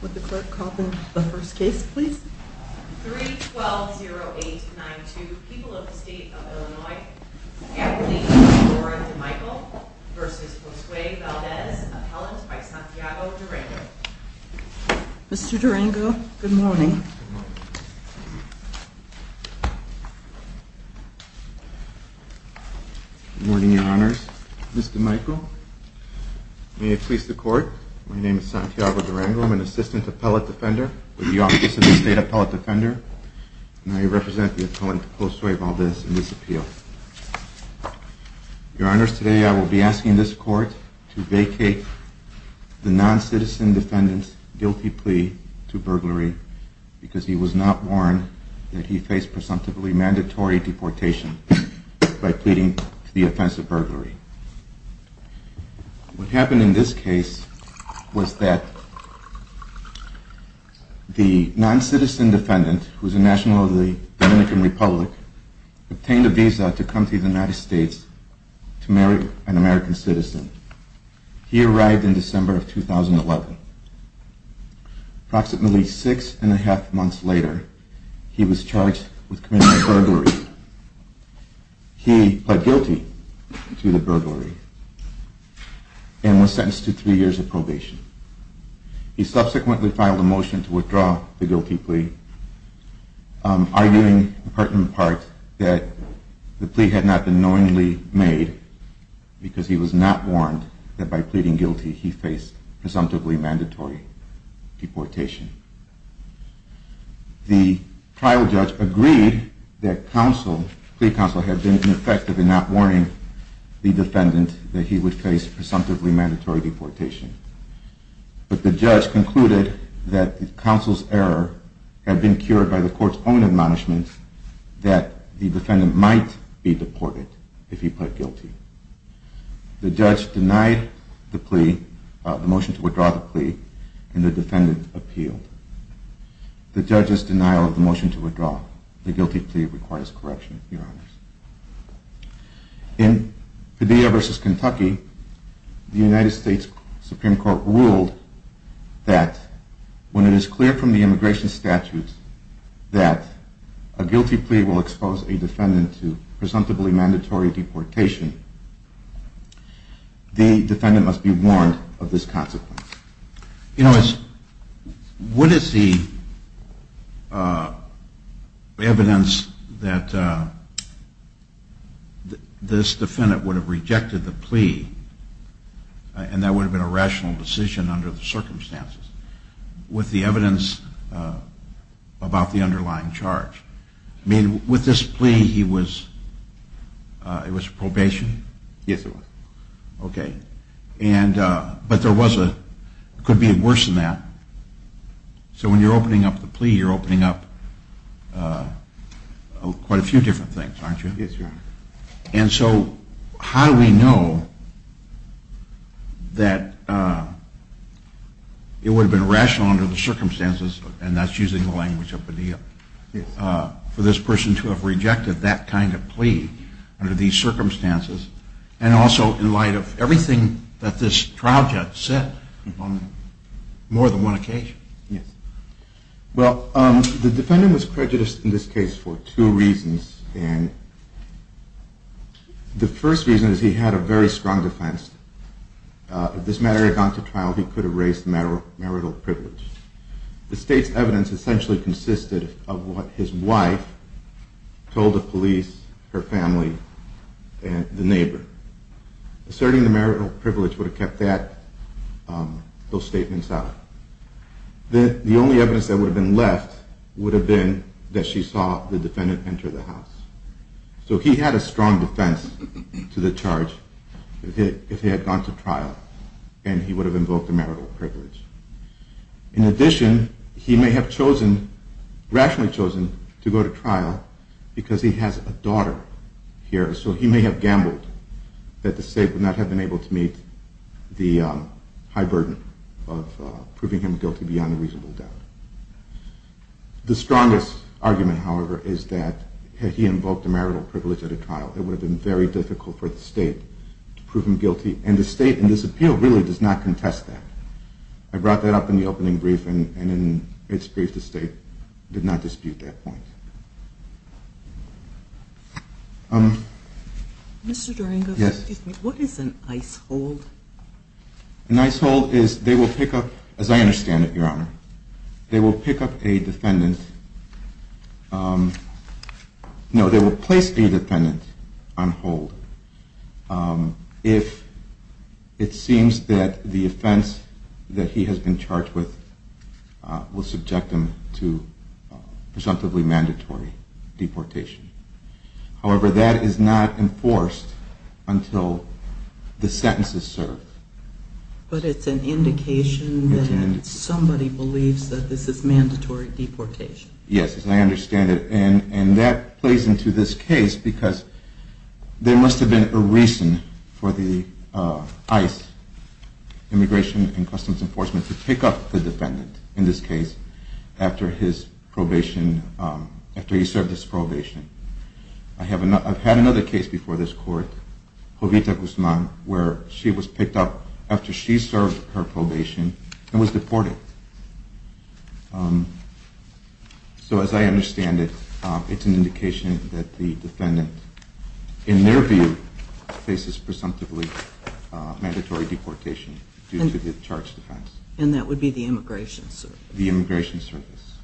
Would the clerk call the first case, please? 3-12-0-8-9-2. People of the State of Illinois. Everly and Dorin Durango v. Josue Valdez. Appellant by Santiago Durango. Mr. Durango, good morning. Good morning, Your Honors. Mr. Durango, may it please the Court, My name is Santiago Durango. I'm an Assistant Appellant Defender with the Office of the State Appellant Defender, and I represent the appellant, Josue Valdez, in this appeal. Your Honors, today I will be asking this Court to vacate the non-citizen defendant's guilty plea to burglary because he was not warned that he faced presumptively mandatory deportation by pleading to the offense of burglary. What happened in this case was that the non-citizen defendant, who is a national of the Dominican Republic, obtained a visa to come to the United States to marry an American citizen. He arrived in December of 2011. Approximately six and a half months later, he was charged with committing a burglary. He pled guilty to the burglary and was sentenced to three years of probation. He subsequently filed a motion to withdraw the guilty plea, arguing in part that the plea had not been knowingly made because he was not warned that by pleading guilty he faced presumptively mandatory deportation. The trial judge agreed that plea counsel had been effective in not warning the defendant that he would face presumptively mandatory deportation. But the judge concluded that the counsel's error had been cured by the Court's own admonishment that the defendant might be deported if he pled guilty. The judge denied the plea, the motion to withdraw the plea, and the defendant appealed. The judge's denial of the motion to withdraw the guilty plea requires correction, Your Honors. In Padilla v. Kentucky, the United States Supreme Court ruled that when it is clear from the immigration statutes that a guilty plea will expose a defendant to presumptively mandatory deportation, the defendant must be warned of this consequence. You know, what is the evidence that this defendant would have rejected the plea, and that would have been a rational decision under the circumstances, with the evidence about the underlying charge? I mean, with this plea, he was, it was probation? Yes, it was. Okay. And, but there was a, could be worse than that. So when you're opening up the plea, you're opening up quite a few different things, aren't you? Yes, Your Honor. And so how do we know that it would have been rational under the circumstances, and that's using the language of Padilla, for this person to have rejected that kind of plea under these circumstances, and also in light of everything that this trial judge said on more than one occasion? Yes. Well, the defendant was prejudiced in this case for two reasons, and the first reason is he had a very strong defense. If this matter had gone to trial, he could have raised marital privilege. The state's evidence essentially consisted of what his wife told the police, her family, and the neighbor. Asserting the marital privilege would have kept that, those statements out. The only evidence that would have been left would have been that she saw the defendant enter the house. So he had a strong defense to the charge if he had gone to trial, and he would have invoked the marital privilege. In addition, he may have rationally chosen to go to trial because he has a daughter here, so he may have gambled that the state would not have been able to meet the high burden of proving him guilty beyond a reasonable doubt. The strongest argument, however, is that had he invoked the marital privilege at a trial, it would have been very difficult for the state to prove him guilty, and the state in this appeal really does not contest that. I brought that up in the opening briefing, and in its brief, the state did not dispute that point. Mr. Durango, what is an ICE hold? An ICE hold is they will pick up, as I understand it, Your Honor, they will pick up a defendant. No, they will place the defendant on hold if it seems that the offense that he has been charged with will subject him to presumptively mandatory deportation. However, that is not enforced until the sentence is served. But it's an indication that somebody believes that this is mandatory deportation. Yes, as I understand it, and that plays into this case because there must have been a reason for the ICE, Immigration and Customs Enforcement, to pick up the defendant in this case after he served his probation. I've had another case before this Court, Jovita Guzman, where she was picked up after she served her probation and was deported. So as I understand it, it's an indication that the defendant, in their view, faces presumptively mandatory deportation due to the charged offense. And that would be the Immigration Service? The Immigration Service.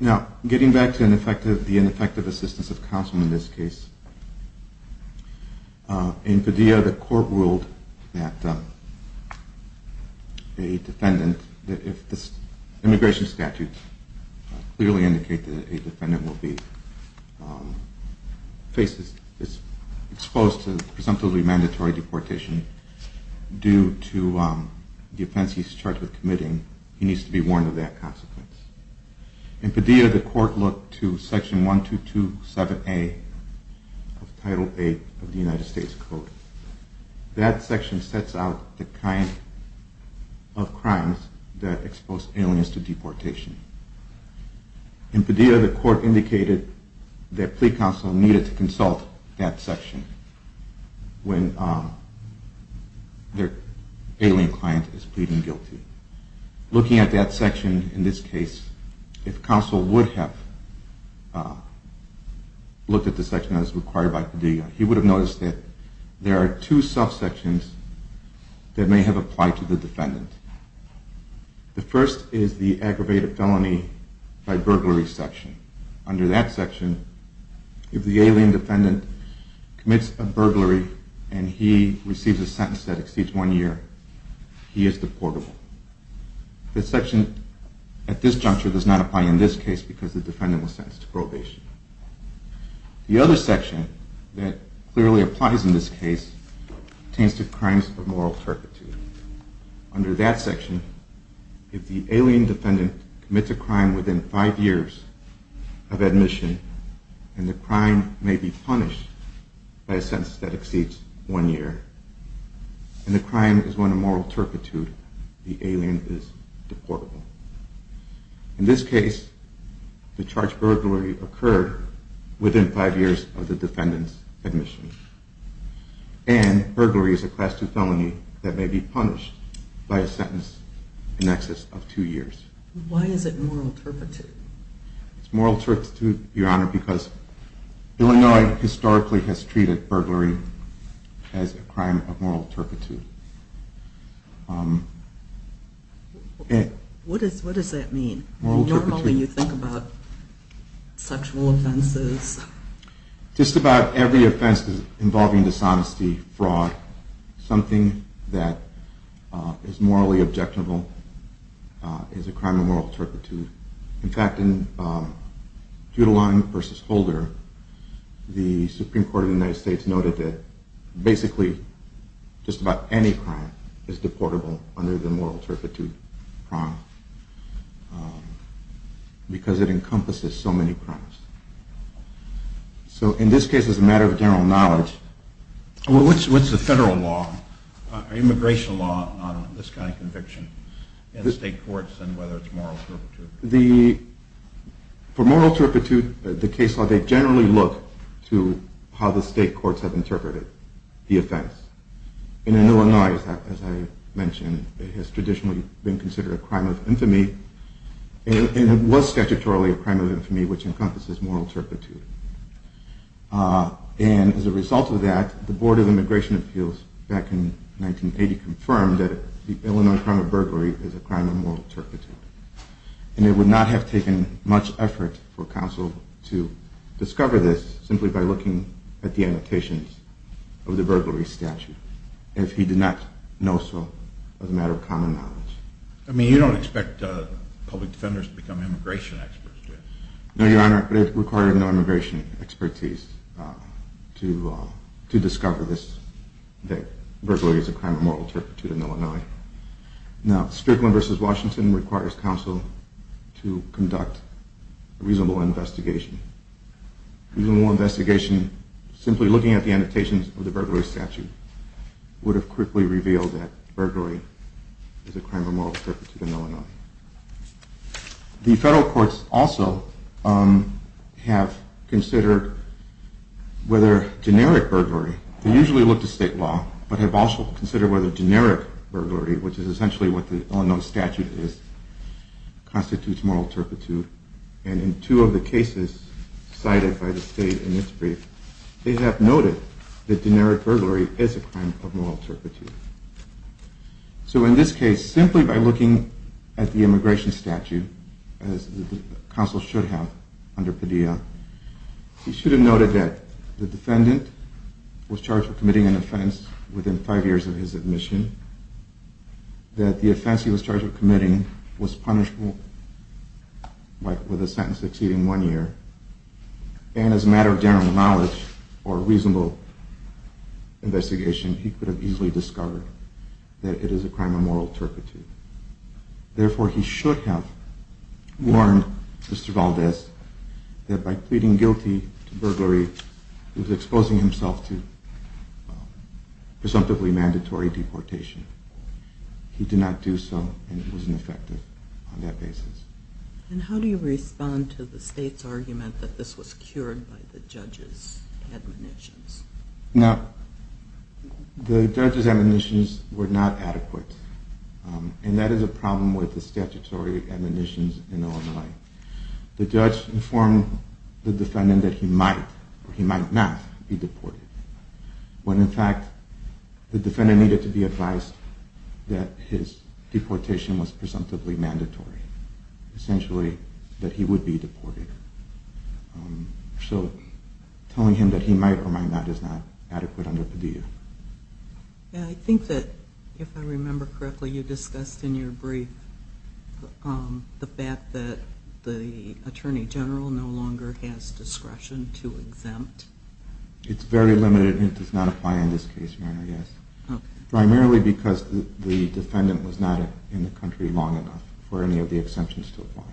Now, getting back to the ineffective assistance of counsel in this case, in Padilla, the Court ruled that a defendant, if the immigration statutes clearly indicate that a defendant will be exposed to presumptively mandatory deportation, due to the offense he's charged with committing, he needs to be warned of that consequence. In Padilla, the Court looked to Section 1227A of Title VIII of the United States Code. That section sets out the kind of crimes that expose aliens to deportation. In Padilla, the Court indicated that plea counsel needed to consult that section when their alien client is pleading guilty. Looking at that section in this case, if counsel would have looked at the section as required by Padilla, he would have noticed that there are two subsections that may have applied to the defendant. The first is the aggravated felony by burglary section. Under that section, if the alien defendant commits a burglary and he receives a sentence that exceeds one year, he is deportable. The section at this juncture does not apply in this case because the defendant was sentenced to probation. The other section that clearly applies in this case pertains to crimes of moral turpitude. Under that section, if the alien defendant commits a crime within five years of admission, and the crime may be punished by a sentence that exceeds one year, and the crime is one of moral turpitude, the alien is deportable. In this case, the charged burglary occurred within five years of the defendant's admission. And burglary is a Class II felony that may be punished by a sentence in excess of two years. Why is it moral turpitude? It's moral turpitude, Your Honor, because Illinois historically has treated burglary as a crime of moral turpitude. What does that mean? Normally you think about sexual offenses. Just about every offense involving dishonesty, fraud, something that is morally objectable is a crime of moral turpitude. In fact, in Judeline v. Holder, the Supreme Court of the United States noted that basically just about any crime is deportable under the moral turpitude crime because it encompasses so many crimes. So in this case, as a matter of general knowledge... What's the federal law, immigration law, on this kind of conviction in state courts and whether it's moral turpitude? For moral turpitude, the case law, they generally look to how the state courts have interpreted the offense. In Illinois, as I mentioned, it has traditionally been considered a crime of infamy, and it was statutorily a crime of infamy which encompasses moral turpitude. And as a result of that, the Board of Immigration Appeals back in 1980 confirmed that the Illinois crime of burglary is a crime of moral turpitude. And it would not have taken much effort for counsel to discover this simply by looking at the annotations of the burglary statute, if he did not know so as a matter of common knowledge. I mean, you don't expect public defenders to become immigration experts, do you? No, Your Honor, it required no immigration expertise to discover this, that burglary is a crime of moral turpitude in Illinois. Now, Strickland v. Washington requires counsel to conduct a reasonable investigation. A reasonable investigation, simply looking at the annotations of the burglary statute, would have quickly revealed that burglary is a crime of moral turpitude in Illinois. The federal courts also have considered whether generic burglary, they usually look to state law, but have also considered whether generic burglary, which is essentially what the Illinois statute is, constitutes moral turpitude. And in two of the cases cited by the state in its brief, they have noted that generic burglary is a crime of moral turpitude. So in this case, simply by looking at the immigration statute, as counsel should have under Padilla, he should have noted that the defendant was charged with committing an offense within five years of his admission, that the offense he was charged with committing was punishable with a sentence exceeding one year, and as a matter of general knowledge or reasonable investigation, he could have easily discovered that it is a crime of moral turpitude. Therefore, he should have warned Mr. Valdez that by pleading guilty to burglary, he was exposing himself to presumptively mandatory deportation. He did not do so, and he was ineffective on that basis. And how do you respond to the state's argument that this was cured by the judge's admonitions? Now, the judge's admonitions were not adequate, and that is a problem with the statutory admonitions in Illinois. The judge informed the defendant that he might or he might not be deported, when in fact the defendant needed to be advised that his deportation was presumptively mandatory, essentially that he would be deported. So telling him that he might or might not is not adequate under Padilla. I think that, if I remember correctly, you discussed in your brief the fact that the attorney general no longer has discretion to exempt. It's very limited and it does not apply in this case, Your Honor, yes. Primarily because the defendant was not in the country long enough for any of the exemptions to apply.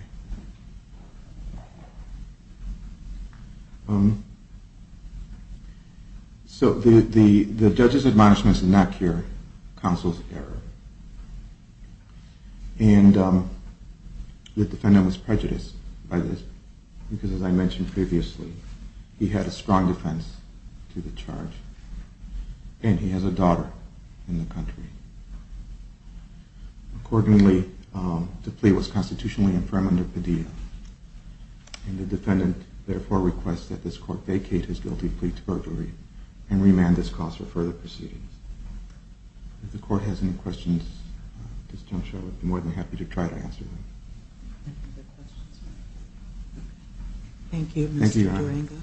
So the judge's admonitions did not cure counsel's error. And the defendant was prejudiced by this, because as I mentioned previously, he had a strong defense to the charge, and he has a daughter in the country. Accordingly, the plea was constitutionally infirm under Padilla. And the defendant, therefore, requests that this court vacate his guilty plea to perjury and remand this cause for further proceedings. If the court has any questions, Ms. Jones-Shaw, I'd be more than happy to try to answer them. Thank you, Mr. Durango.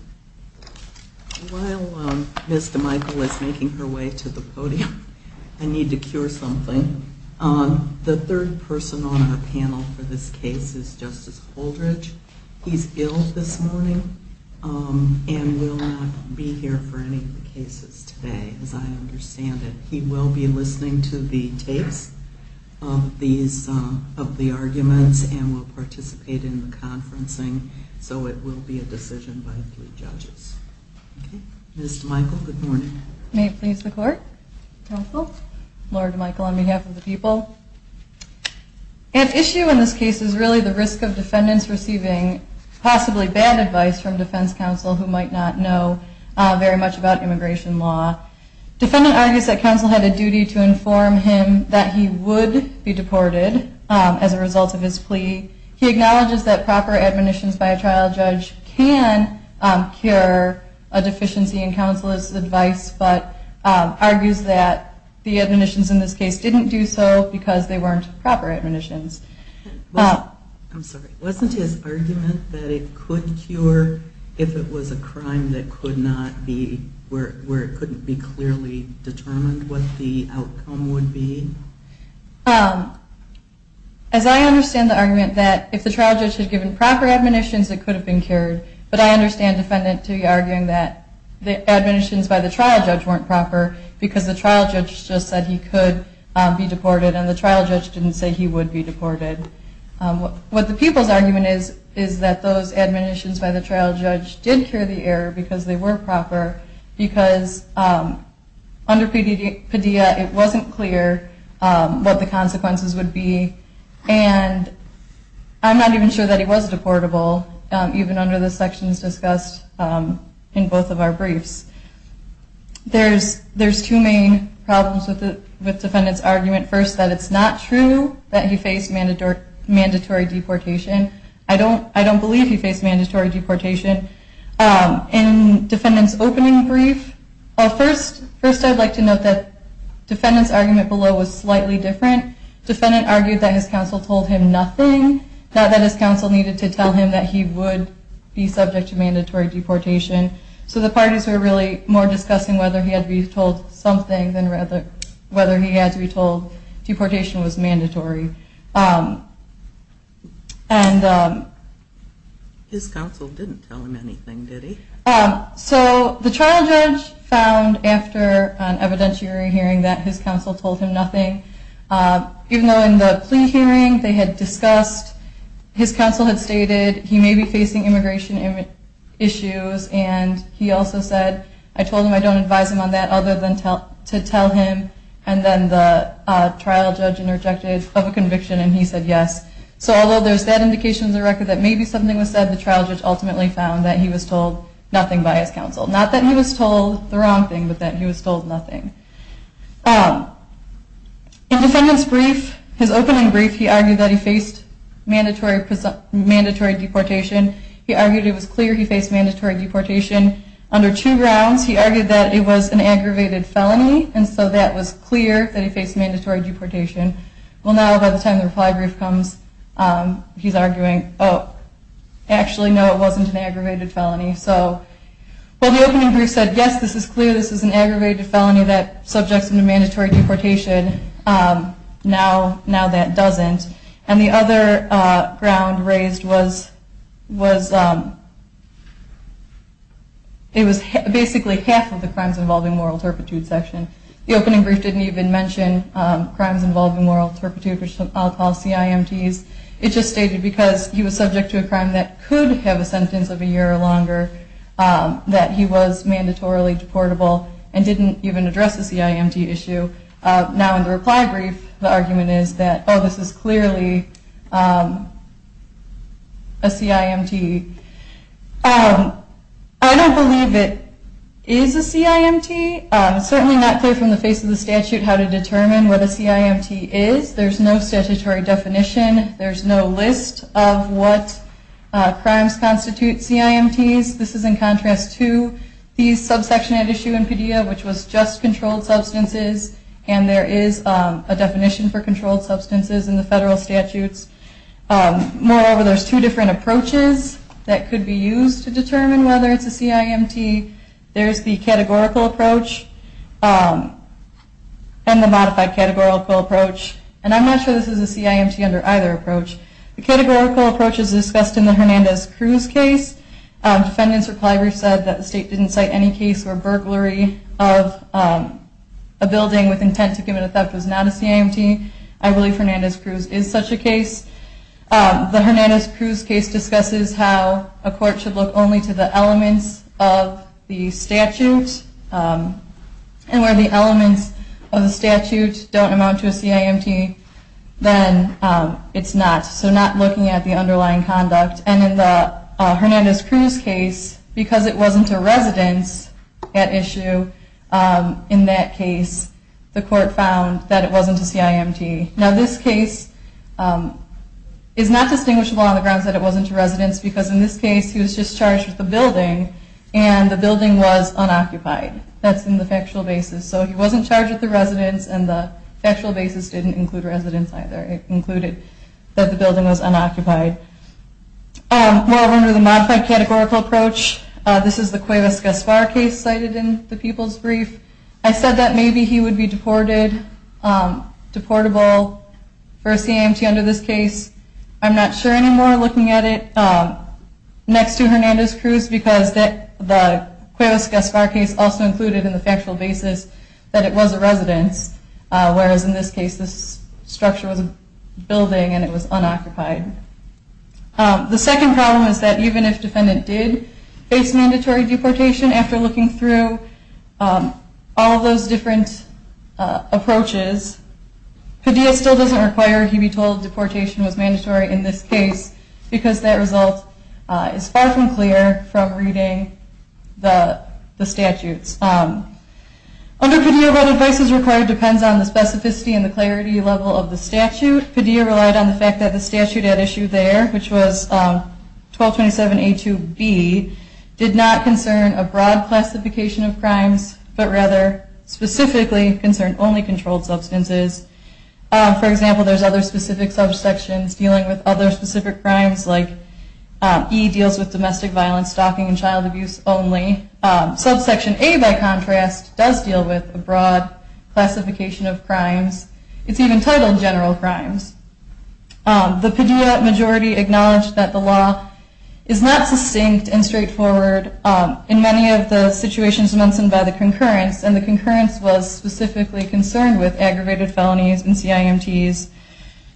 While Ms. DeMichael is making her way to the podium, I need to cure something. The third person on our panel for this case is Justice Holdridge. He's ill this morning and will not be here for any of the cases today, as I understand it. He will be listening to the tapes of the arguments and will participate in the conferencing. So it will be a decision by three judges. Ms. DeMichael, good morning. May it please the court. Counsel? Lord DeMichael, on behalf of the people. At issue in this case is really the risk of defendants receiving possibly bad advice from defense counsel who might not know very much about immigration law. Defendant argues that counsel had a duty to inform him that he would be deported as a result of his plea. He acknowledges that proper admonitions by a trial judge can cure a deficiency in counsel's advice, but argues that the admonitions in this case didn't do so because they weren't proper admonitions. I'm sorry. Wasn't his argument that it could cure if it was a crime where it couldn't be clearly determined what the outcome would be? As I understand the argument that if the trial judge had given proper admonitions, it could have been cured. But I understand defendant to be arguing that the admonitions by the trial judge weren't proper because the trial judge just said he could be deported and the trial judge didn't say he would be deported. What the people's argument is is that those admonitions by the trial judge did cure the error because they were proper because under PDEA it wasn't clear what the consequences would be. And I'm not even sure that he was deportable, even under the sections discussed in both of our briefs. There's two main problems with defendant's argument. First, that it's not true that he faced mandatory deportation. I don't believe he faced mandatory deportation. In defendant's opening brief, first I'd like to note that defendant's argument below was slightly different. Defendant argued that his counsel told him nothing, not that his counsel needed to tell him that he would be subject to mandatory deportation. So the parties were really more discussing whether he had to be told something than whether he had to be told deportation was mandatory. His counsel didn't tell him anything, did he? So the trial judge found after an evidentiary hearing that his counsel told him nothing. Even though in the plea hearing they had discussed, his counsel had stated he may be facing immigration issues and he also said, I told him I don't advise him on that other than to tell him. And then the trial judge interjected of a conviction and he said yes. So although there's that indication in the record that maybe something was said, the trial judge ultimately found that he was told nothing by his counsel. Not that he was told the wrong thing, but that he was told nothing. In defendant's brief, his opening brief, he argued that he faced mandatory deportation. He argued it was clear he faced mandatory deportation. Under two grounds, he argued that it was an aggravated felony and so that was clear that he faced mandatory deportation. Well, now by the time the reply brief comes, he's arguing, oh, actually, no, it wasn't an aggravated felony. So, well, the opening brief said, yes, this is clear, this is an aggravated felony that subjects him to mandatory deportation. Now that doesn't. And the other ground raised was it was basically half of the crimes involving moral turpitude section. The opening brief didn't even mention crimes involving moral turpitude, which I'll call CIMTs. It just stated because he was subject to a crime that could have a sentence of a year or longer, that he was mandatorily deportable and didn't even address the CIMT issue. Now in the reply brief, the argument is that, oh, this is clearly a CIMT. I don't believe it is a CIMT. It's certainly not clear from the face of the statute how to determine what a CIMT is. There's no statutory definition. There's no list of what crimes constitute CIMTs. This is in contrast to the subsection at issue in PDEA, which was just controlled substances, and there is a definition for controlled substances in the federal statutes. Moreover, there's two different approaches that could be used to determine whether it's a CIMT. There's the categorical approach and the modified categorical approach. And I'm not sure this is a CIMT under either approach. The categorical approach is discussed in the Hernandez-Cruz case. Defendants' reply brief said that the state didn't cite any case or burglary of a building with intent to commit a theft as not a CIMT. I believe Hernandez-Cruz is such a case. The Hernandez-Cruz case discusses how a court should look only to the elements of the statute, and where the elements of the statute don't amount to a CIMT, then it's not. So not looking at the underlying conduct. And in the Hernandez-Cruz case, because it wasn't a residence at issue in that case, the court found that it wasn't a CIMT. Now this case is not distinguishable on the grounds that it wasn't a residence, because in this case he was just charged with the building, and the building was unoccupied. That's in the factual basis. So he wasn't charged with the residence, and the factual basis didn't include residence either. It included that the building was unoccupied. Moreover, under the modified categorical approach, this is the Cuevas-Gaspar case cited in the people's brief. I said that maybe he would be deported, deportable for a CIMT under this case. I'm not sure anymore looking at it next to Hernandez-Cruz, because the Cuevas-Gaspar case also included in the factual basis that it was a residence, whereas in this case this structure was a building and it was unoccupied. The second problem is that even if defendant did face mandatory deportation, after looking through all those different approaches, Padilla still doesn't require he be told deportation was mandatory in this case, because that result is far from clear from reading the statutes. Under Padilla, what advice is required depends on the specificity and the clarity level of the statute. Padilla relied on the fact that the statute at issue there, which was 1227A2B, did not concern a broad classification of crimes, but rather specifically concerned only controlled substances. For example, there's other specific subsections dealing with other specific crimes, like E deals with domestic violence, stalking, and child abuse only. Subsection A, by contrast, does deal with a broad classification of crimes. It's even titled general crimes. The Padilla majority acknowledged that the law is not succinct and straightforward in many of the situations mentioned by the concurrence, and the concurrence was specifically concerned with aggravated felonies and CIMTs.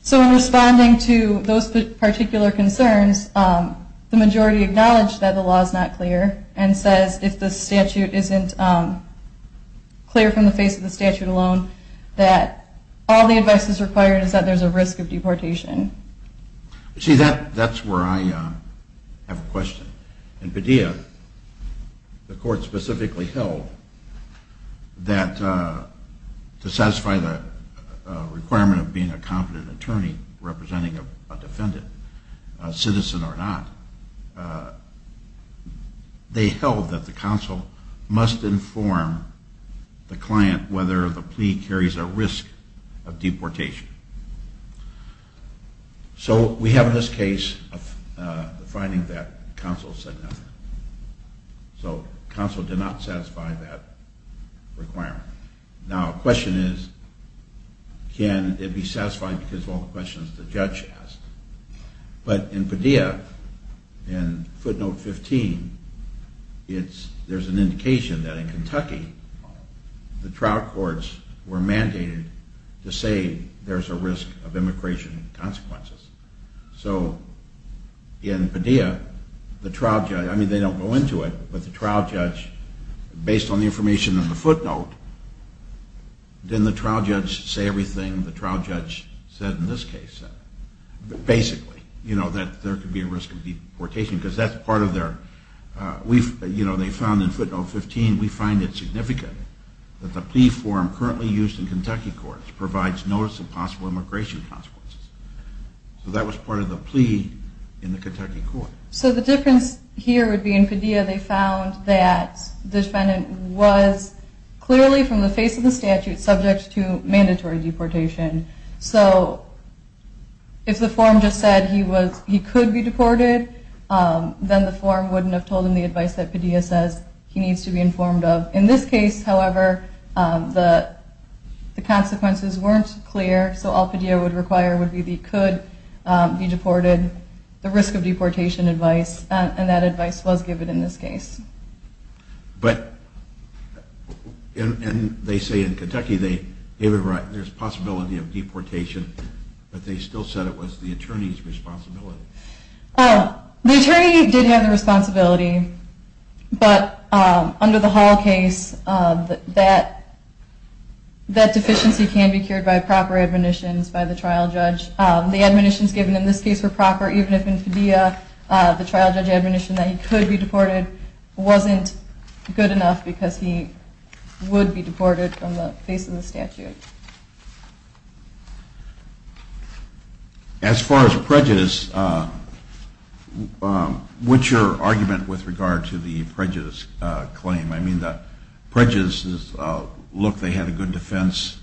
So in responding to those particular concerns, the majority acknowledged that the law is not clear and says if the statute isn't clear from the face of the statute alone, that all the advice is required is that there's a risk of deportation. See, that's where I have a question. In Padilla, the court specifically held that to satisfy the requirement of being a competent attorney representing a defendant, a citizen or not, they held that the counsel must inform the client whether the plea carries a risk of deportation. So we have in this case the finding that counsel said nothing. So counsel did not satisfy that requirement. Now the question is, can it be satisfied because of all the questions the judge asked? But in Padilla, in footnote 15, there's an indication that in Kentucky, the trial courts were mandated to say there's a risk of immigration consequences. So in Padilla, the trial judge, I mean they don't go into it, but the trial judge, based on the information in the footnote, didn't the trial judge say everything the trial judge said in this case? Basically, you know, that there could be a risk of deportation because that's part of their, you know, they found in footnote 15, we find it significant that the plea form currently used in Kentucky courts provides notice of possible immigration consequences. So that was part of the plea in the Kentucky court. So the difference here would be in Padilla, they found that the defendant was clearly, from the face of the statute, subject to mandatory deportation. So if the form just said he could be deported, then the form wouldn't have told him the advice that Padilla says he needs to be informed of. In this case, however, the consequences weren't clear, so all Padilla would require would be he could be deported, the risk of deportation advice, and that advice was given in this case. But, and they say in Kentucky they gave it right, there's a possibility of deportation, but they still said it was the attorney's responsibility. The attorney did have the responsibility, but under the Hall case, that deficiency can be cured by proper admonitions by the trial judge. The admonitions given in this case were proper, even if in Padilla, the trial judge's admonition that he could be deported wasn't good enough because he would be deported from the face of the statute. As far as prejudice, what's your argument with regard to the prejudice claim? I mean, the prejudice is, look, they had a good defense.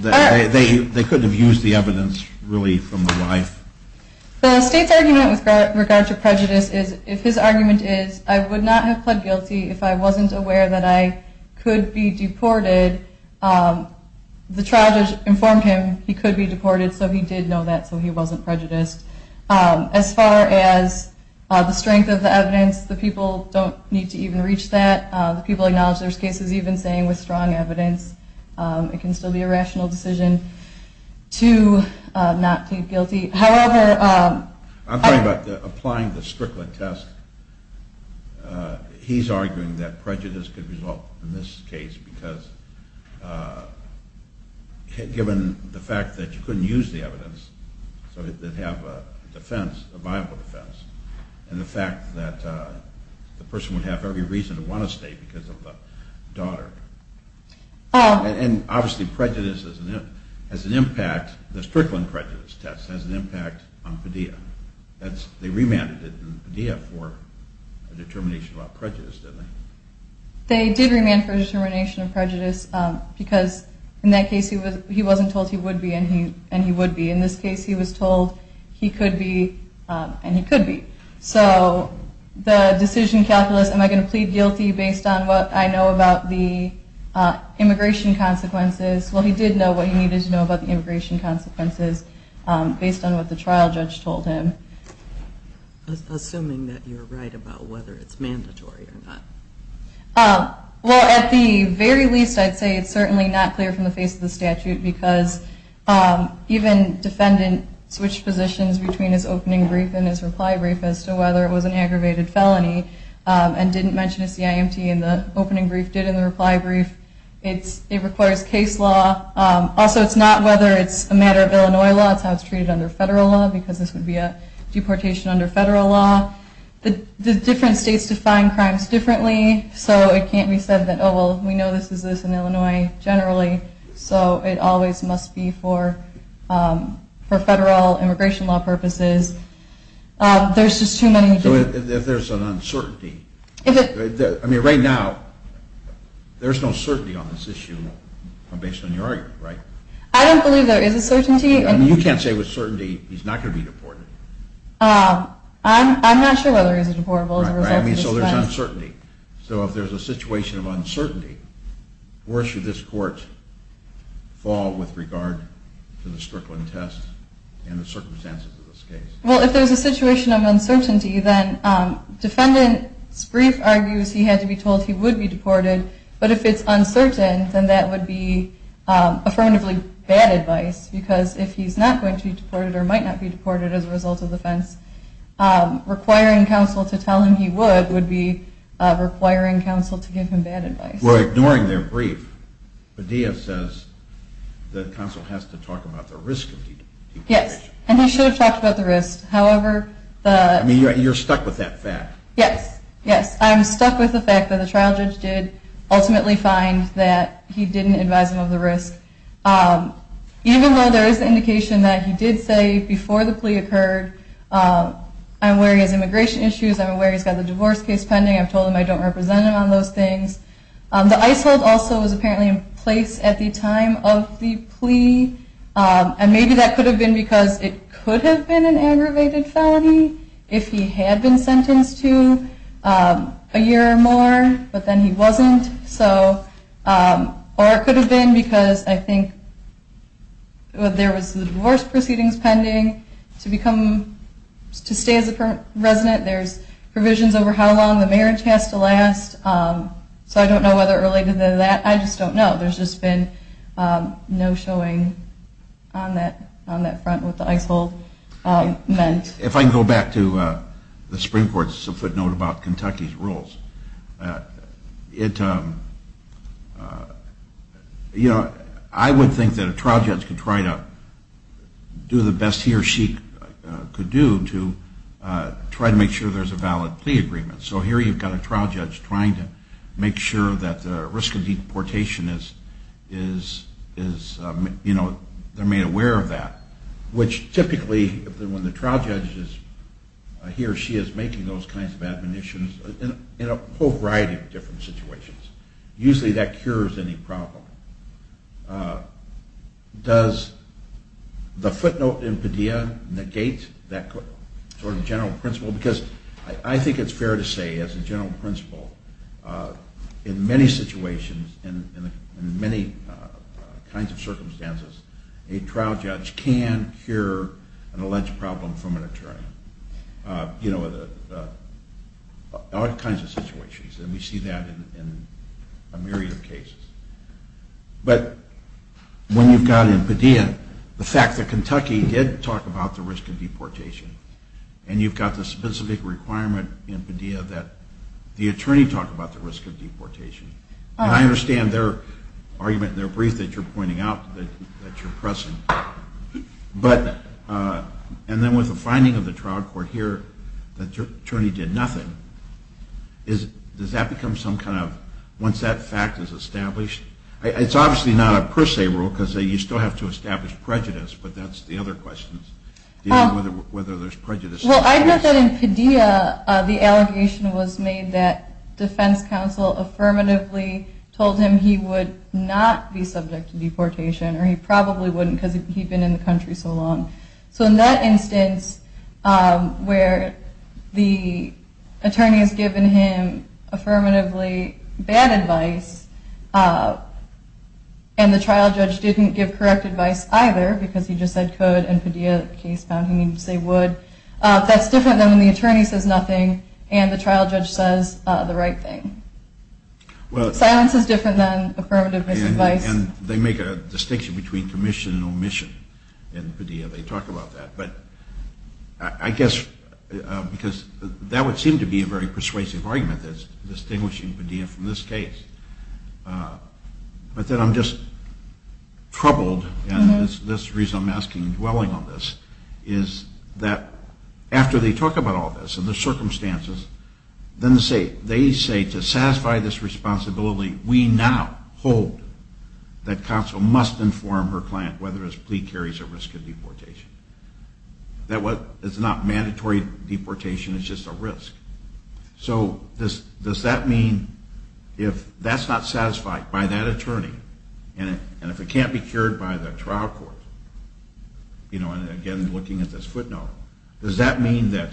They couldn't have used the evidence, really, from the wife. The state's argument with regard to prejudice is, if his argument is, I would not have pled guilty if I wasn't aware that I could be deported, the trial judge informed him he could be deported, so he did know that, so he wasn't prejudiced. As far as the strength of the evidence, the people don't need to even reach that. The people acknowledge there's cases even saying with strong evidence it can still be a rational decision to not plead guilty. I'm talking about applying the Strickler test. He's arguing that prejudice could result in this case because, given the fact that you couldn't use the evidence, so they'd have a defense, a viable defense, and the fact that the person would have every reason to want to stay because of the daughter. And obviously prejudice has an impact, the Strickland prejudice test has an impact on Padilla. They remanded it in Padilla for a determination about prejudice, didn't they? They did remand for a determination of prejudice because in that case he wasn't told he would be and he would be. In this case he was told he could be and he could be. So the decision calculus, am I going to plead guilty based on what I know about the immigration consequences? Well, he did know what he needed to know about the immigration consequences based on what the trial judge told him. Assuming that you're right about whether it's mandatory or not. Well, at the very least I'd say it's certainly not clear from the face of the statute because even defendant switched positions between his opening brief and his reply brief as to whether it was an aggravated felony and didn't mention a CIMT in the opening brief, did in the reply brief. It requires case law. Also it's not whether it's a matter of Illinois law, it's how it's treated under federal law because this would be a deportation under federal law. The different states define crimes differently so it can't be said that, oh well, we know this is this in Illinois generally so it always must be for federal immigration law purposes. There's just too many... So if there's an uncertainty, I mean right now there's no certainty on this issue based on your argument, right? I don't believe there is a certainty. I mean you can't say with certainty he's not going to be deported. I'm not sure whether he's deportable as a result of this defense. So there's uncertainty. So if there's a situation of uncertainty, where should this court fall with regard to the Strickland test and the circumstances of this case? Well, if there's a situation of uncertainty then defendant's brief argues he had to be told he would be deported but if it's uncertain then that would be affirmatively bad advice because if he's not going to be deported or might not be deported as a result of the defense, requiring counsel to tell him he would would be requiring counsel to give him bad advice. Well, ignoring their brief, Padilla says the counsel has to talk about the risk of deportation. Yes, and he should have talked about the risk. I mean you're stuck with that fact. Yes, yes. I'm stuck with the fact that the trial judge did ultimately find that he didn't advise him of the risk. Even though there is indication that he did say before the plea occurred, I'm aware he has immigration issues, I'm aware he's got the divorce case pending, I've told him I don't represent him on those things. The ICE hold also was apparently in place at the time of the plea and maybe that could have been because it could have been an aggravated felony if he had been sentenced to a year or more but then he wasn't. Or it could have been because I think there was the divorce proceedings pending to stay as a resident, there's provisions over how long the marriage has to last, so I don't know whether it related to that, I just don't know. There's just been no showing on that front what the ICE hold meant. If I can go back to the Supreme Court's footnote about Kentucky's rules, I would think that a trial judge could try to do the best he or she could do to try to make sure there's a valid plea agreement. So here you've got a trial judge trying to make sure that the risk of deportation is made aware of that, which typically when the trial judge is he or she is making those kinds of admonitions in a whole variety of different situations. Usually that cures any problem. Does the footnote in Padilla negate that sort of general principle? Because I think it's fair to say as a general principle, in many situations and in many kinds of circumstances, a trial judge can cure an alleged problem from an attorney. You know, all kinds of situations, and we see that in a myriad of cases. But when you've got in Padilla the fact that Kentucky did talk about the risk of deportation and you've got the specific requirement in Padilla that the attorney talk about the risk of deportation, and I understand their argument and their brief that you're pointing out that you're pressing, and then with the finding of the trial court here that the attorney did nothing, does that become some kind of, once that fact is established, it's obviously not a per se rule because you still have to establish prejudice, but that's the other question, whether there's prejudice. Well, I know that in Padilla the allegation was made that defense counsel affirmatively told him he would not be subject to deportation, or he probably wouldn't because he'd been in the country so long. So in that instance where the attorney has given him affirmatively bad advice, and the trial judge didn't give correct advice either because he just said could, and Padilla case found he needed to say would, that's different than when the attorney says nothing and the trial judge says the right thing. Silence is different than affirmative misadvice. And they make a distinction between commission and omission in Padilla. They talk about that, but I guess because that would seem to be a very persuasive argument, that's distinguishing Padilla from this case. But then I'm just troubled, and this is the reason I'm asking and dwelling on this, is that after they talk about all this and the circumstances, then they say to satisfy this responsibility we now hold that counsel must inform her client whether his plea carries a risk of deportation. It's not mandatory deportation, it's just a risk. So does that mean if that's not satisfied by that attorney, and if it can't be cured by the trial court, and again looking at this footnote, does that mean that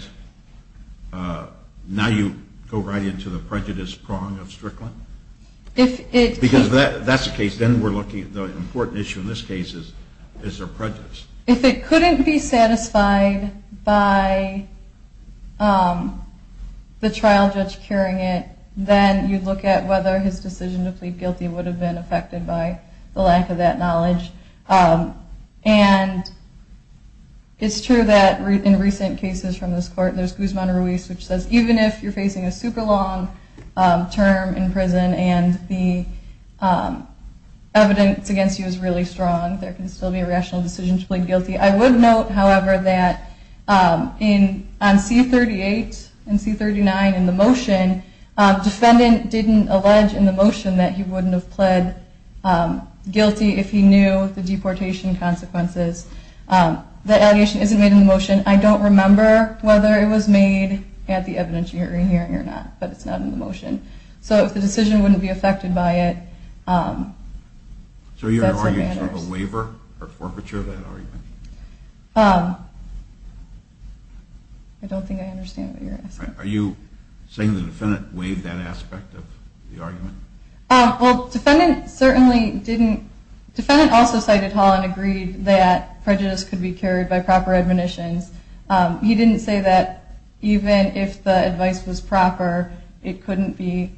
now you go right into the prejudice prong of Strickland? Because that's the case, then we're looking at the important issue in this case is their prejudice. If it couldn't be satisfied by the trial judge curing it, then you look at whether his decision to plead guilty would have been affected by the lack of that knowledge. And it's true that in recent cases from this court, there's Guzman Ruiz, which says even if you're facing a super long term in prison and the evidence against you is really strong, there can still be a rational decision to plead guilty. I would note, however, that on C-38 and C-39 in the motion, defendant didn't allege in the motion that he wouldn't have pled guilty if he knew the deportation consequences. That allegation isn't made in the motion. I don't remember whether it was made at the evidence hearing or not, but it's not in the motion. So if the decision wouldn't be affected by it, that's what matters. So you're arguing sort of a waiver or forfeiture of that argument? I don't think I understand what you're asking. Are you saying the defendant waived that aspect of the argument? Well, defendant certainly didn't. Defendant also cited Hall and agreed that prejudice could be cured by proper admonitions. He didn't say that even if the advice was proper, it couldn't be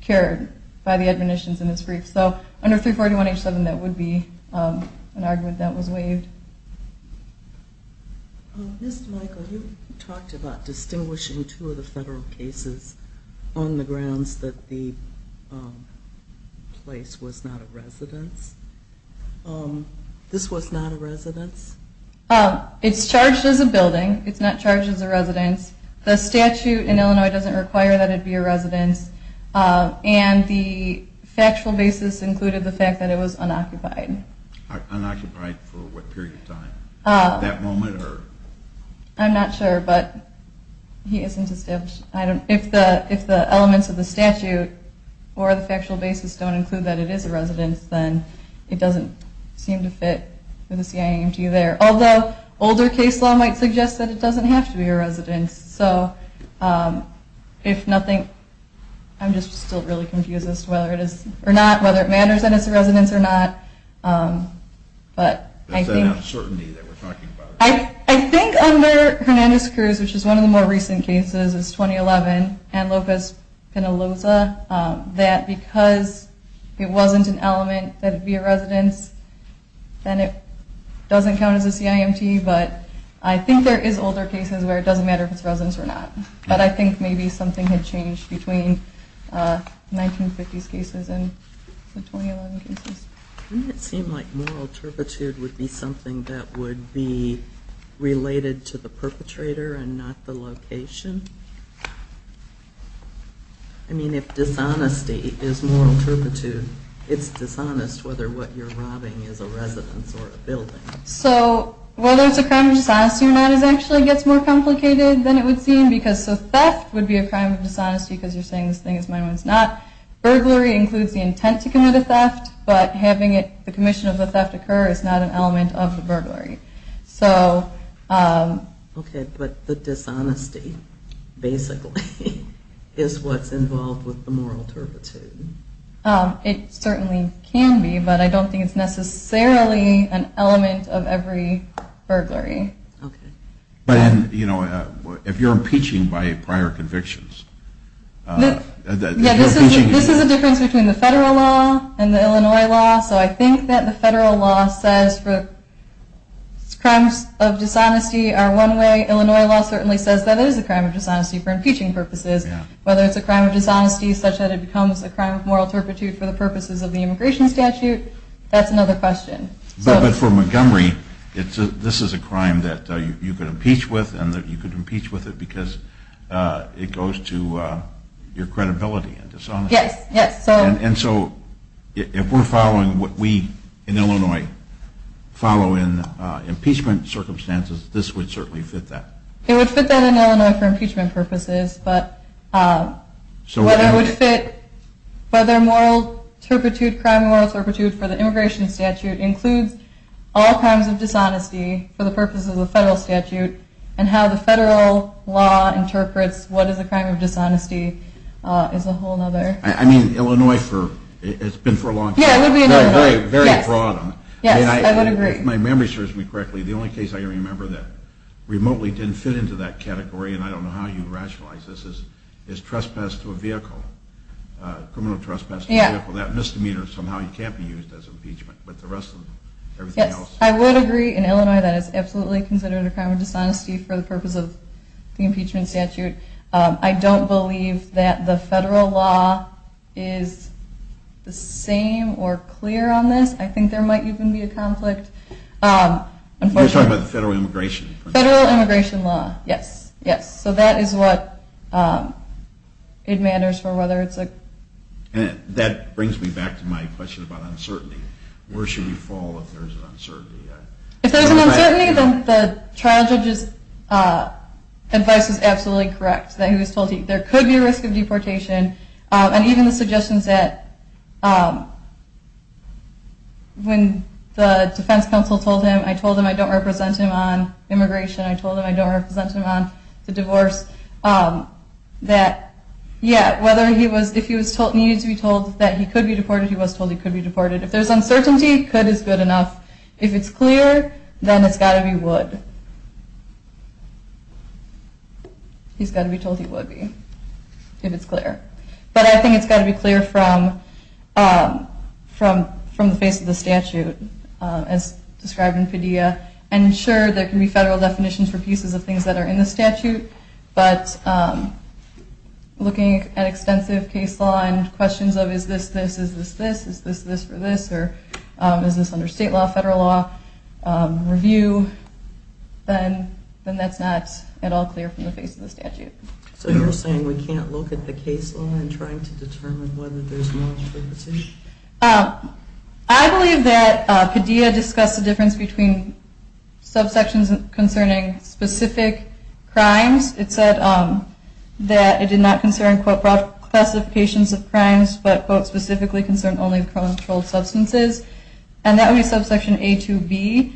cured by the admonitions in his brief. So under 341H7, that would be an argument that was waived. Ms. Michael, you talked about distinguishing two of the federal cases on the grounds that the place was not a residence. This was not a residence? It's charged as a building. It's not charged as a residence. The statute in Illinois doesn't require that it be a residence, and the factual basis included the fact that it was unoccupied. Unoccupied for what period of time? That moment or? I'm not sure, but he isn't established. If the elements of the statute or the factual basis don't include that it is a residence, then it doesn't seem to fit with the CIMG there. Although older case law might suggest that it doesn't have to be a residence. So if nothing, I'm just still really confused as to whether it is or not, whether it matters that it's a residence or not. There's an uncertainty that we're talking about. I think under Hernandez-Cruz, which is one of the more recent cases, is 2011, and Lopez-Penaloza, that because it wasn't an element that it be a residence, then it doesn't count as a CIMG, but I think there is older cases where it doesn't matter if it's a residence or not. But I think maybe something had changed between 1950s cases and the 2011 cases. Wouldn't it seem like moral turpitude would be something that would be related to the perpetrator and not the location? I mean, if dishonesty is moral turpitude, it's dishonest whether what you're robbing is a residence or a building. So whether it's a crime of dishonesty or not actually gets more complicated than it would seem because theft would be a crime of dishonesty because you're saying this thing is mine when it's not. Burglary includes the intent to commit a theft, but having the commission of the theft occur is not an element of the burglary. Okay, but the dishonesty basically is what's involved with the moral turpitude. It certainly can be, but I don't think it's necessarily an element of every burglary. Okay. But if you're impeaching by prior convictions, Yeah, this is a difference between the federal law and the Illinois law. So I think that the federal law says crimes of dishonesty are one way. Illinois law certainly says that it is a crime of dishonesty for impeaching purposes. Whether it's a crime of dishonesty such that it becomes a crime of moral turpitude for the purposes of the immigration statute, that's another question. But for Montgomery, this is a crime that you could impeach with because it goes to your credibility and dishonesty. Yes, yes. And so if we're following what we in Illinois follow in impeachment circumstances, this would certainly fit that. It would fit that in Illinois for impeachment purposes, but whether moral turpitude, crime of moral turpitude for the immigration statute includes all crimes of dishonesty for the purposes of the federal statute and how the federal law interprets what is a crime of dishonesty is a whole other... I mean, Illinois, it's been for a long time. Yeah, it would be in Illinois. Very broad. Yes, I would agree. If my memory serves me correctly, the only case I can remember that remotely didn't fit into that category, and I don't know how you rationalize this, is trespass to a vehicle. Criminal trespass to a vehicle. That misdemeanor somehow can't be used as impeachment. But the rest of them, everything else... I would agree. In Illinois, that is absolutely considered a crime of dishonesty for the purpose of the impeachment statute. I don't believe that the federal law is the same or clear on this. I think there might even be a conflict. You're talking about the federal immigration? Federal immigration law, yes, yes. So that is what it matters for whether it's a... That brings me back to my question about uncertainty. Where should you fall if there's an uncertainty? If there's an uncertainty, then the trial judge's advice is absolutely correct, that he was told there could be a risk of deportation. And even the suggestions that when the defense counsel told him, I told him I don't represent him on immigration, I told him I don't represent him on the divorce, that, yeah, whether he was... If he needed to be told that he could be deported, he was told he could be deported. If there's uncertainty, could is good enough. If it's clear, then it's got to be would. He's got to be told he would be if it's clear. But I think it's got to be clear from the face of the statute, as described in Padilla. And sure, there can be federal definitions for pieces of things that are in the statute, but looking at extensive case law and questions of is this this, is this this, is this this for this, or is this under state law, federal law review, then that's not at all clear from the face of the statute. So you're saying we can't look at the case law and try to determine whether there's more to the position? I believe that Padilla discussed the difference between subsections It said that it did not concern, quote, classifications of crimes, but, quote, specifically concerned only controlled substances. And that would be subsection A2B.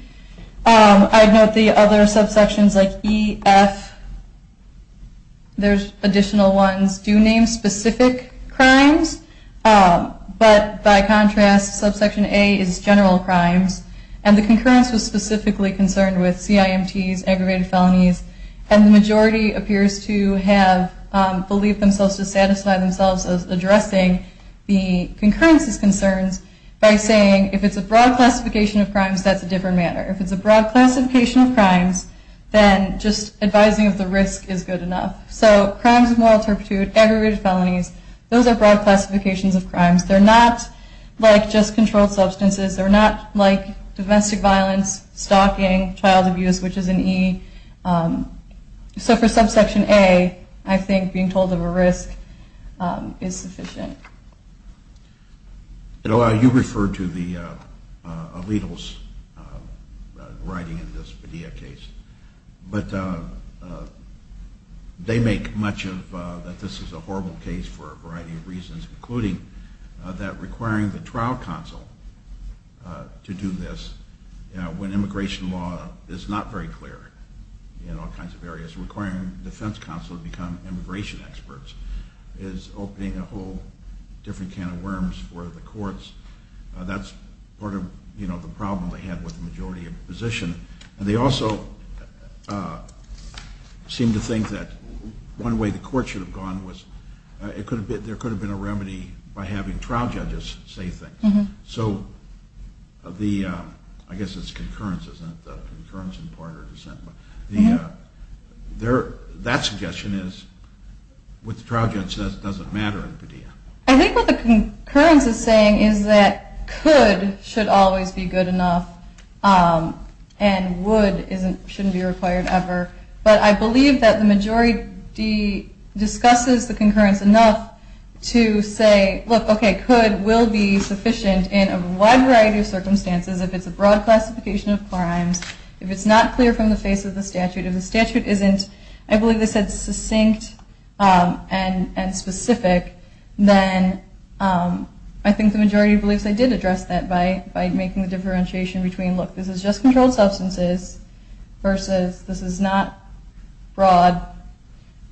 I'd note the other subsections, like E, F, there's additional ones, do name specific crimes. But by contrast, subsection A is general crimes. And the concurrence was specifically concerned with CIMTs, aggravated felonies, and the majority appears to have believed themselves to satisfy themselves as addressing the concurrence's concerns by saying if it's a broad classification of crimes, that's a different matter. If it's a broad classification of crimes, then just advising of the risk is good enough. So crimes of moral turpitude, aggravated felonies, those are broad classifications of crimes. They're not like just controlled substances. They're not like domestic violence, stalking, child abuse, which is an E. So for subsection A, I think being told of a risk is sufficient. You referred to the allegals writing in this Padilla case. But they make much of that this is a horrible case for a variety of reasons, including that requiring the trial counsel to do this when immigration law is not very clear in all kinds of areas, requiring defense counsel to become immigration experts is opening a whole different can of worms for the courts. That's part of the problem they had with the majority of the position. And they also seem to think that one way the court should have gone was there could have been a remedy by having trial judges say things. So I guess it's concurrence, isn't it? Concurrence in part or dissent. That suggestion is what the trial judge says doesn't matter in Padilla. I think what the concurrence is saying is that could should always be good enough and would shouldn't be required ever. But I believe that the majority discusses the concurrence enough to say, look, okay, could will be sufficient in a wide variety of circumstances. If it's a broad classification of crimes, if it's not clear from the face of the statute, if the statute isn't, I believe they said succinct and specific, then I think the majority believes they did address that by making the differentiation between, look, this is just controlled substances versus this is not broad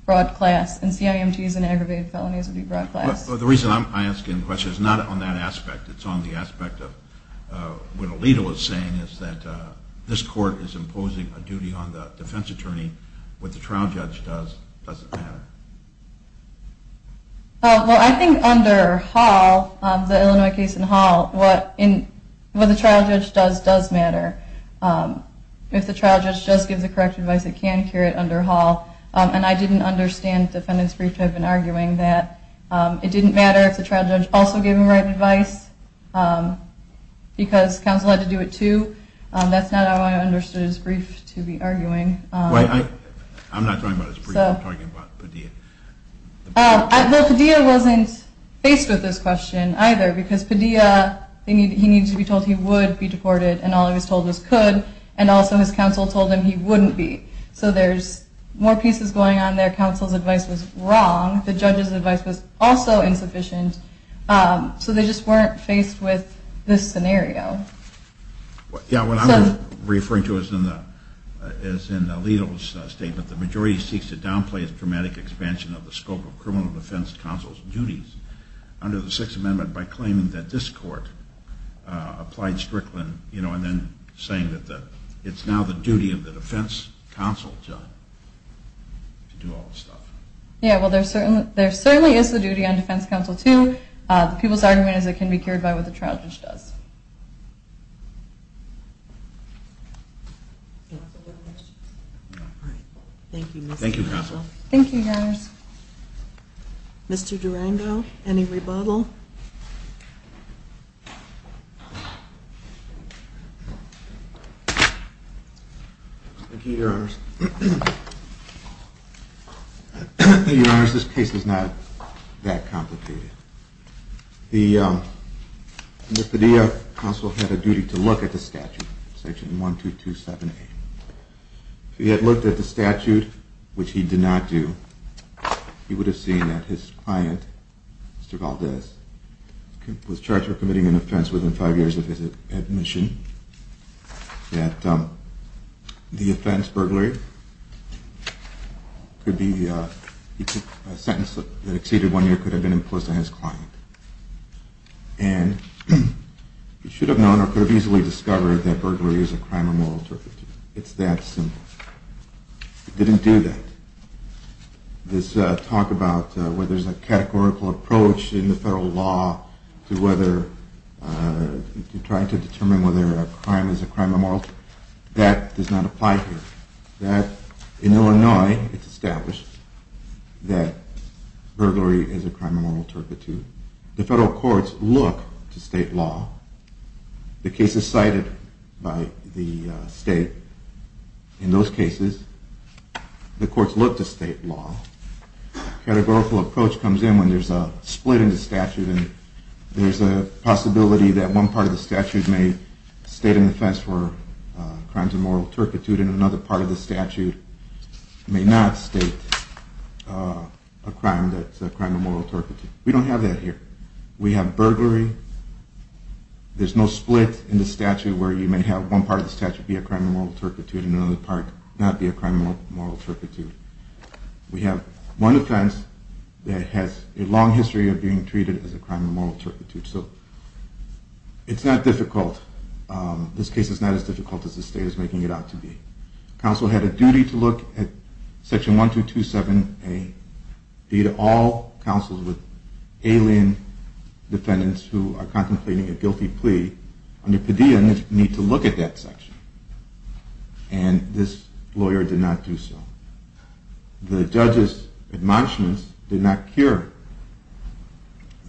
class. And CIMTs and aggravated felonies would be broad class. The reason I'm asking the question is not on that aspect. It's on the aspect of what Alito was saying is that this court is imposing a duty on the defense attorney. What the trial judge does doesn't matter. Well, I think under Hall, the Illinois case in Hall, what the trial judge does does matter. If the trial judge just gives the correct advice, it can cure it under Hall. And I didn't understand defendant's brief type in arguing that it didn't matter if the trial judge also gave him the right advice because counsel had to do it too. That's not how I understood his brief to be arguing. I'm not talking about his brief. I'm talking about Padilla. Well, Padilla wasn't faced with this question either because Padilla, he needed to be told he would be deported, and all he was told was could, and also his counsel told him he wouldn't be. So there's more pieces going on there. Counsel's advice was wrong. The judge's advice was also insufficient. So they just weren't faced with this scenario. Yeah, what I'm referring to is in Alito's statement, the majority seeks to downplay the dramatic expansion of the scope of criminal defense counsel's duties under the Sixth Amendment by claiming that this court applied Strickland, you know, and then saying that it's now the duty of the defense counsel to do all this stuff. Yeah, well, there certainly is the duty on defense counsel too. The people's argument is it can be cured by what the trial judge does. Thank you. Thank you, counsel. Thank you, Your Honors. Mr. Durando, any rebuttal? Thank you, Your Honors. Your Honors, this case is not that complicated. The FIDEA counsel had a duty to look at the statute, section 1227A. If he had looked at the statute, which he did not do, he would have seen that his client, Mr. Valdez, was charged with committing an offense within five years of his admission, that the offense, burglary, could be a sentence that exceeded one year, could have been imposed on his client. And he should have known or could have easily discovered that burglary is a crime of moral turpitude. It's that simple. He didn't do that. This talk about whether there's a categorical approach in the federal law to whether to try to determine whether a crime is a crime of moral turpitude, that does not apply here. That, in Illinois, it's established that burglary is a crime of moral turpitude. The federal courts look to state law. The case is cited by the state. In those cases, the courts look to state law. A categorical approach comes in when there's a split in the statute and there's a possibility that one part of the statute may state an offense for crimes of moral turpitude and another part of the statute may not state a crime that's a crime of moral turpitude. We don't have that here. We have burglary. There's no split in the statute where you may have one part of the statute be a crime of moral turpitude and another part not be a crime of moral turpitude. We have one offense that has a long history of being treated as a crime of moral turpitude. So it's not difficult. This case is not as difficult as the state is making it out to be. Counsel had a duty to look at Section 1227A, be it all counsels with alien defendants who are contemplating a guilty plea under PDEA need to look at that section. And this lawyer did not do so. The judge's admonishments did not cure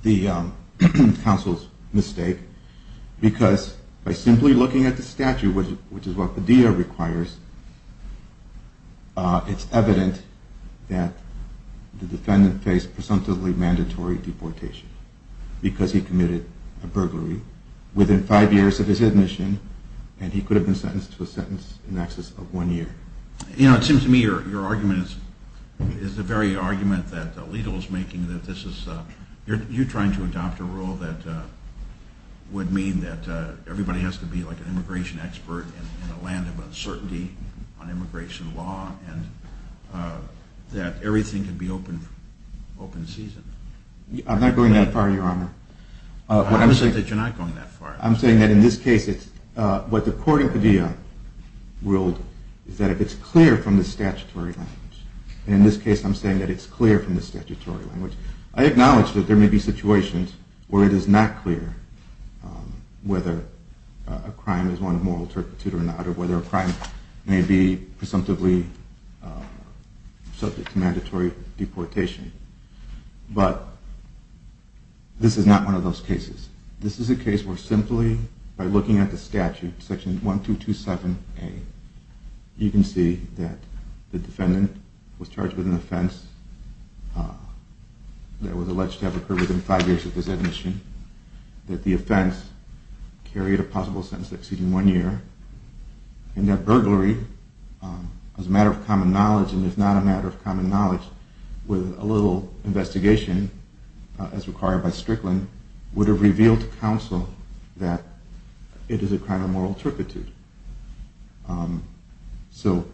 the counsel's mistake because by simply looking at the statute, which is what PDEA requires, it's evident that the defendant faced presumptively mandatory deportation because he committed a crime and he could have been sentenced to a sentence in excess of one year. You know, it seems to me your argument is the very argument that Alito is making that this is, you're trying to adopt a rule that would mean that everybody has to be like an immigration expert in a land of uncertainty on immigration law and that everything can be open season. I'm not going that far, Your Honor. I'm saying that you're not going that far. I'm saying that in this case, what the court in PDEA ruled is that if it's clear from the statutory language. And in this case, I'm saying that it's clear from the statutory language. I acknowledge that there may be situations where it is not clear whether a crime is one of moral turpitude or not or whether a crime may be presumptively subject to mandatory deportation. But this is not one of those cases. This is a case where simply by looking at the statute, section 1227A, you can see that the defendant was charged with an offense that was alleged to have occurred within five years of his admission, that the offense carried a possible sentence exceeding one year, and that burglary, as a matter of common knowledge and if not a matter of common knowledge, with a little investigation as required by Strickland, would have revealed to counsel that it is a crime of moral turpitude. So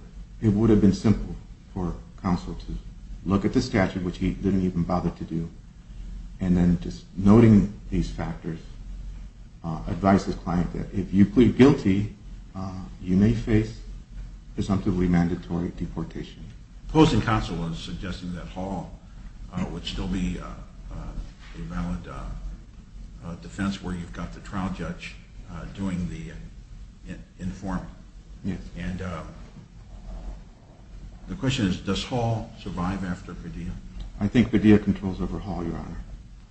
it would have been simple for counsel to look at the statute, which he didn't even bother to do, and then just noting these factors, advise his client that if you plead guilty, you may face presumptively mandatory deportation. Opposing counsel was suggesting that Hall would still be a valid defense where you've got the trial judge doing the informing. Yes. And the question is, does Hall survive after Padilla? I think Padilla controls over Hall, Your Honor.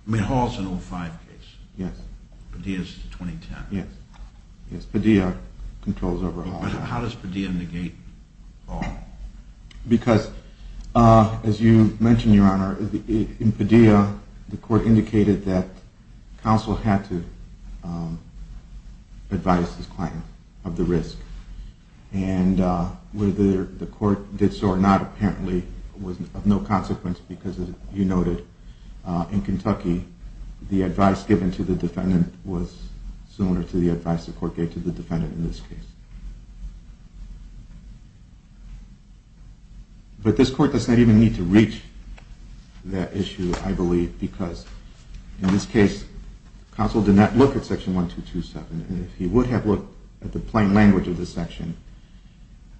I mean, Hall's an 05 case. Yes. Padilla's a 2010. Yes. Yes, Padilla controls over Hall. But how does Padilla negate Hall? Because, as you mentioned, Your Honor, in Padilla, the court indicated that counsel had to advise his client of the risk. And whether the court did so or not, apparently, was of no consequence, because, as you noted, in Kentucky, the advice given to the defendant was similar to the advice the court gave to the defendant in this case. But this court does not even need to reach that issue, I believe, because in this case, counsel did not look at Section 1227. And if he would have looked at the plain language of the section,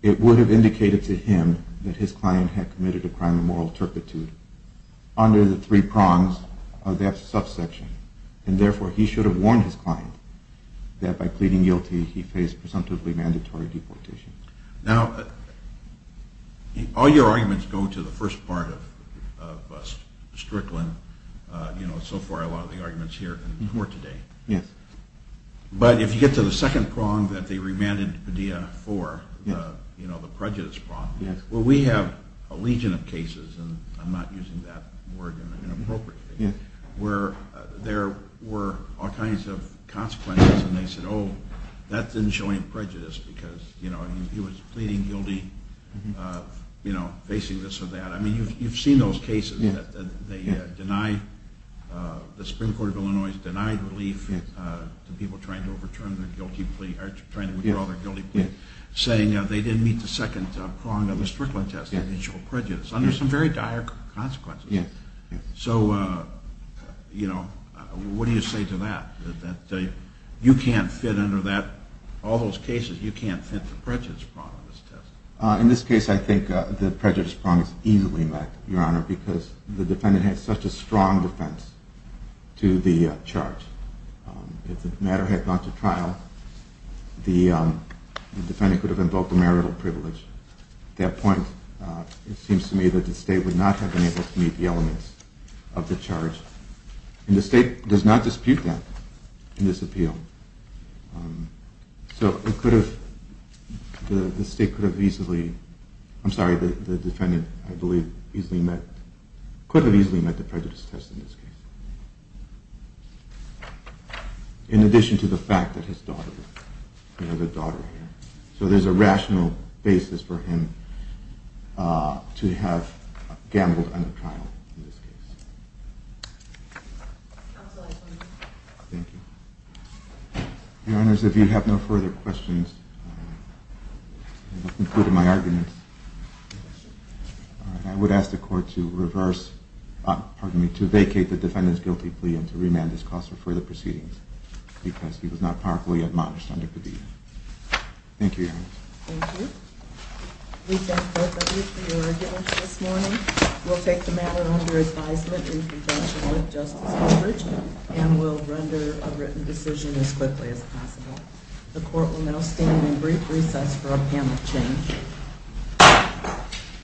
it would have indicated to him that his client had committed a crime of moral turpitude under the three prongs of that subsection. And therefore, he should have warned his client that by pleading guilty, he faced presumptively mandatory deportation. Now, all your arguments go to the first part of Strickland. You know, so far, a lot of the arguments here and more today. Yes. But if you get to the second prong that they remanded Padilla for, you know, the prejudice prong, where we have a legion of cases, and I'm not using that word inappropriately, where there were all kinds of consequences. And they said, oh, that didn't show any prejudice because, you know, he was pleading guilty, you know, facing this or that. I mean, you've seen those cases that they deny the Supreme Court of Illinois has denied relief to people trying to withdraw their guilty plea, saying they didn't meet the second prong of the Strickland test. It didn't show prejudice under some very dire consequences. So, you know, what do you say to that? That you can't fit under that, all those cases, you can't fit the prejudice prong of this test? In this case, I think the prejudice prong is easily met, Your Honor, because the defendant has such a strong defense to the charge. If the matter had gone to trial, the defendant could have invoked a marital privilege. At that point, it seems to me that the state would not have been able to meet the elements of the charge. And the state does not dispute that in this appeal. So it could have, the state could have easily, I'm sorry, the defendant, I believe, easily met, could have easily met the prejudice test in this case. In addition to the fact that his daughter, you know, the daughter here. So there's a rational basis for him to have gambled under trial in this case. Thank you. Your Honors, if you have no further questions, I have concluded my argument. I would ask the court to reverse, pardon me, to vacate the defendant's guilty plea and to remand his cause for further proceedings because he was not remarkably admonished under Padilla. Thank you, Your Honors. Thank you. We thank both of you for your arguments this morning. We'll take the matter under advisement in conjunction with Justice Eldridge and we'll render a written decision as quickly as possible. The court will now stand in brief recess for a panel change.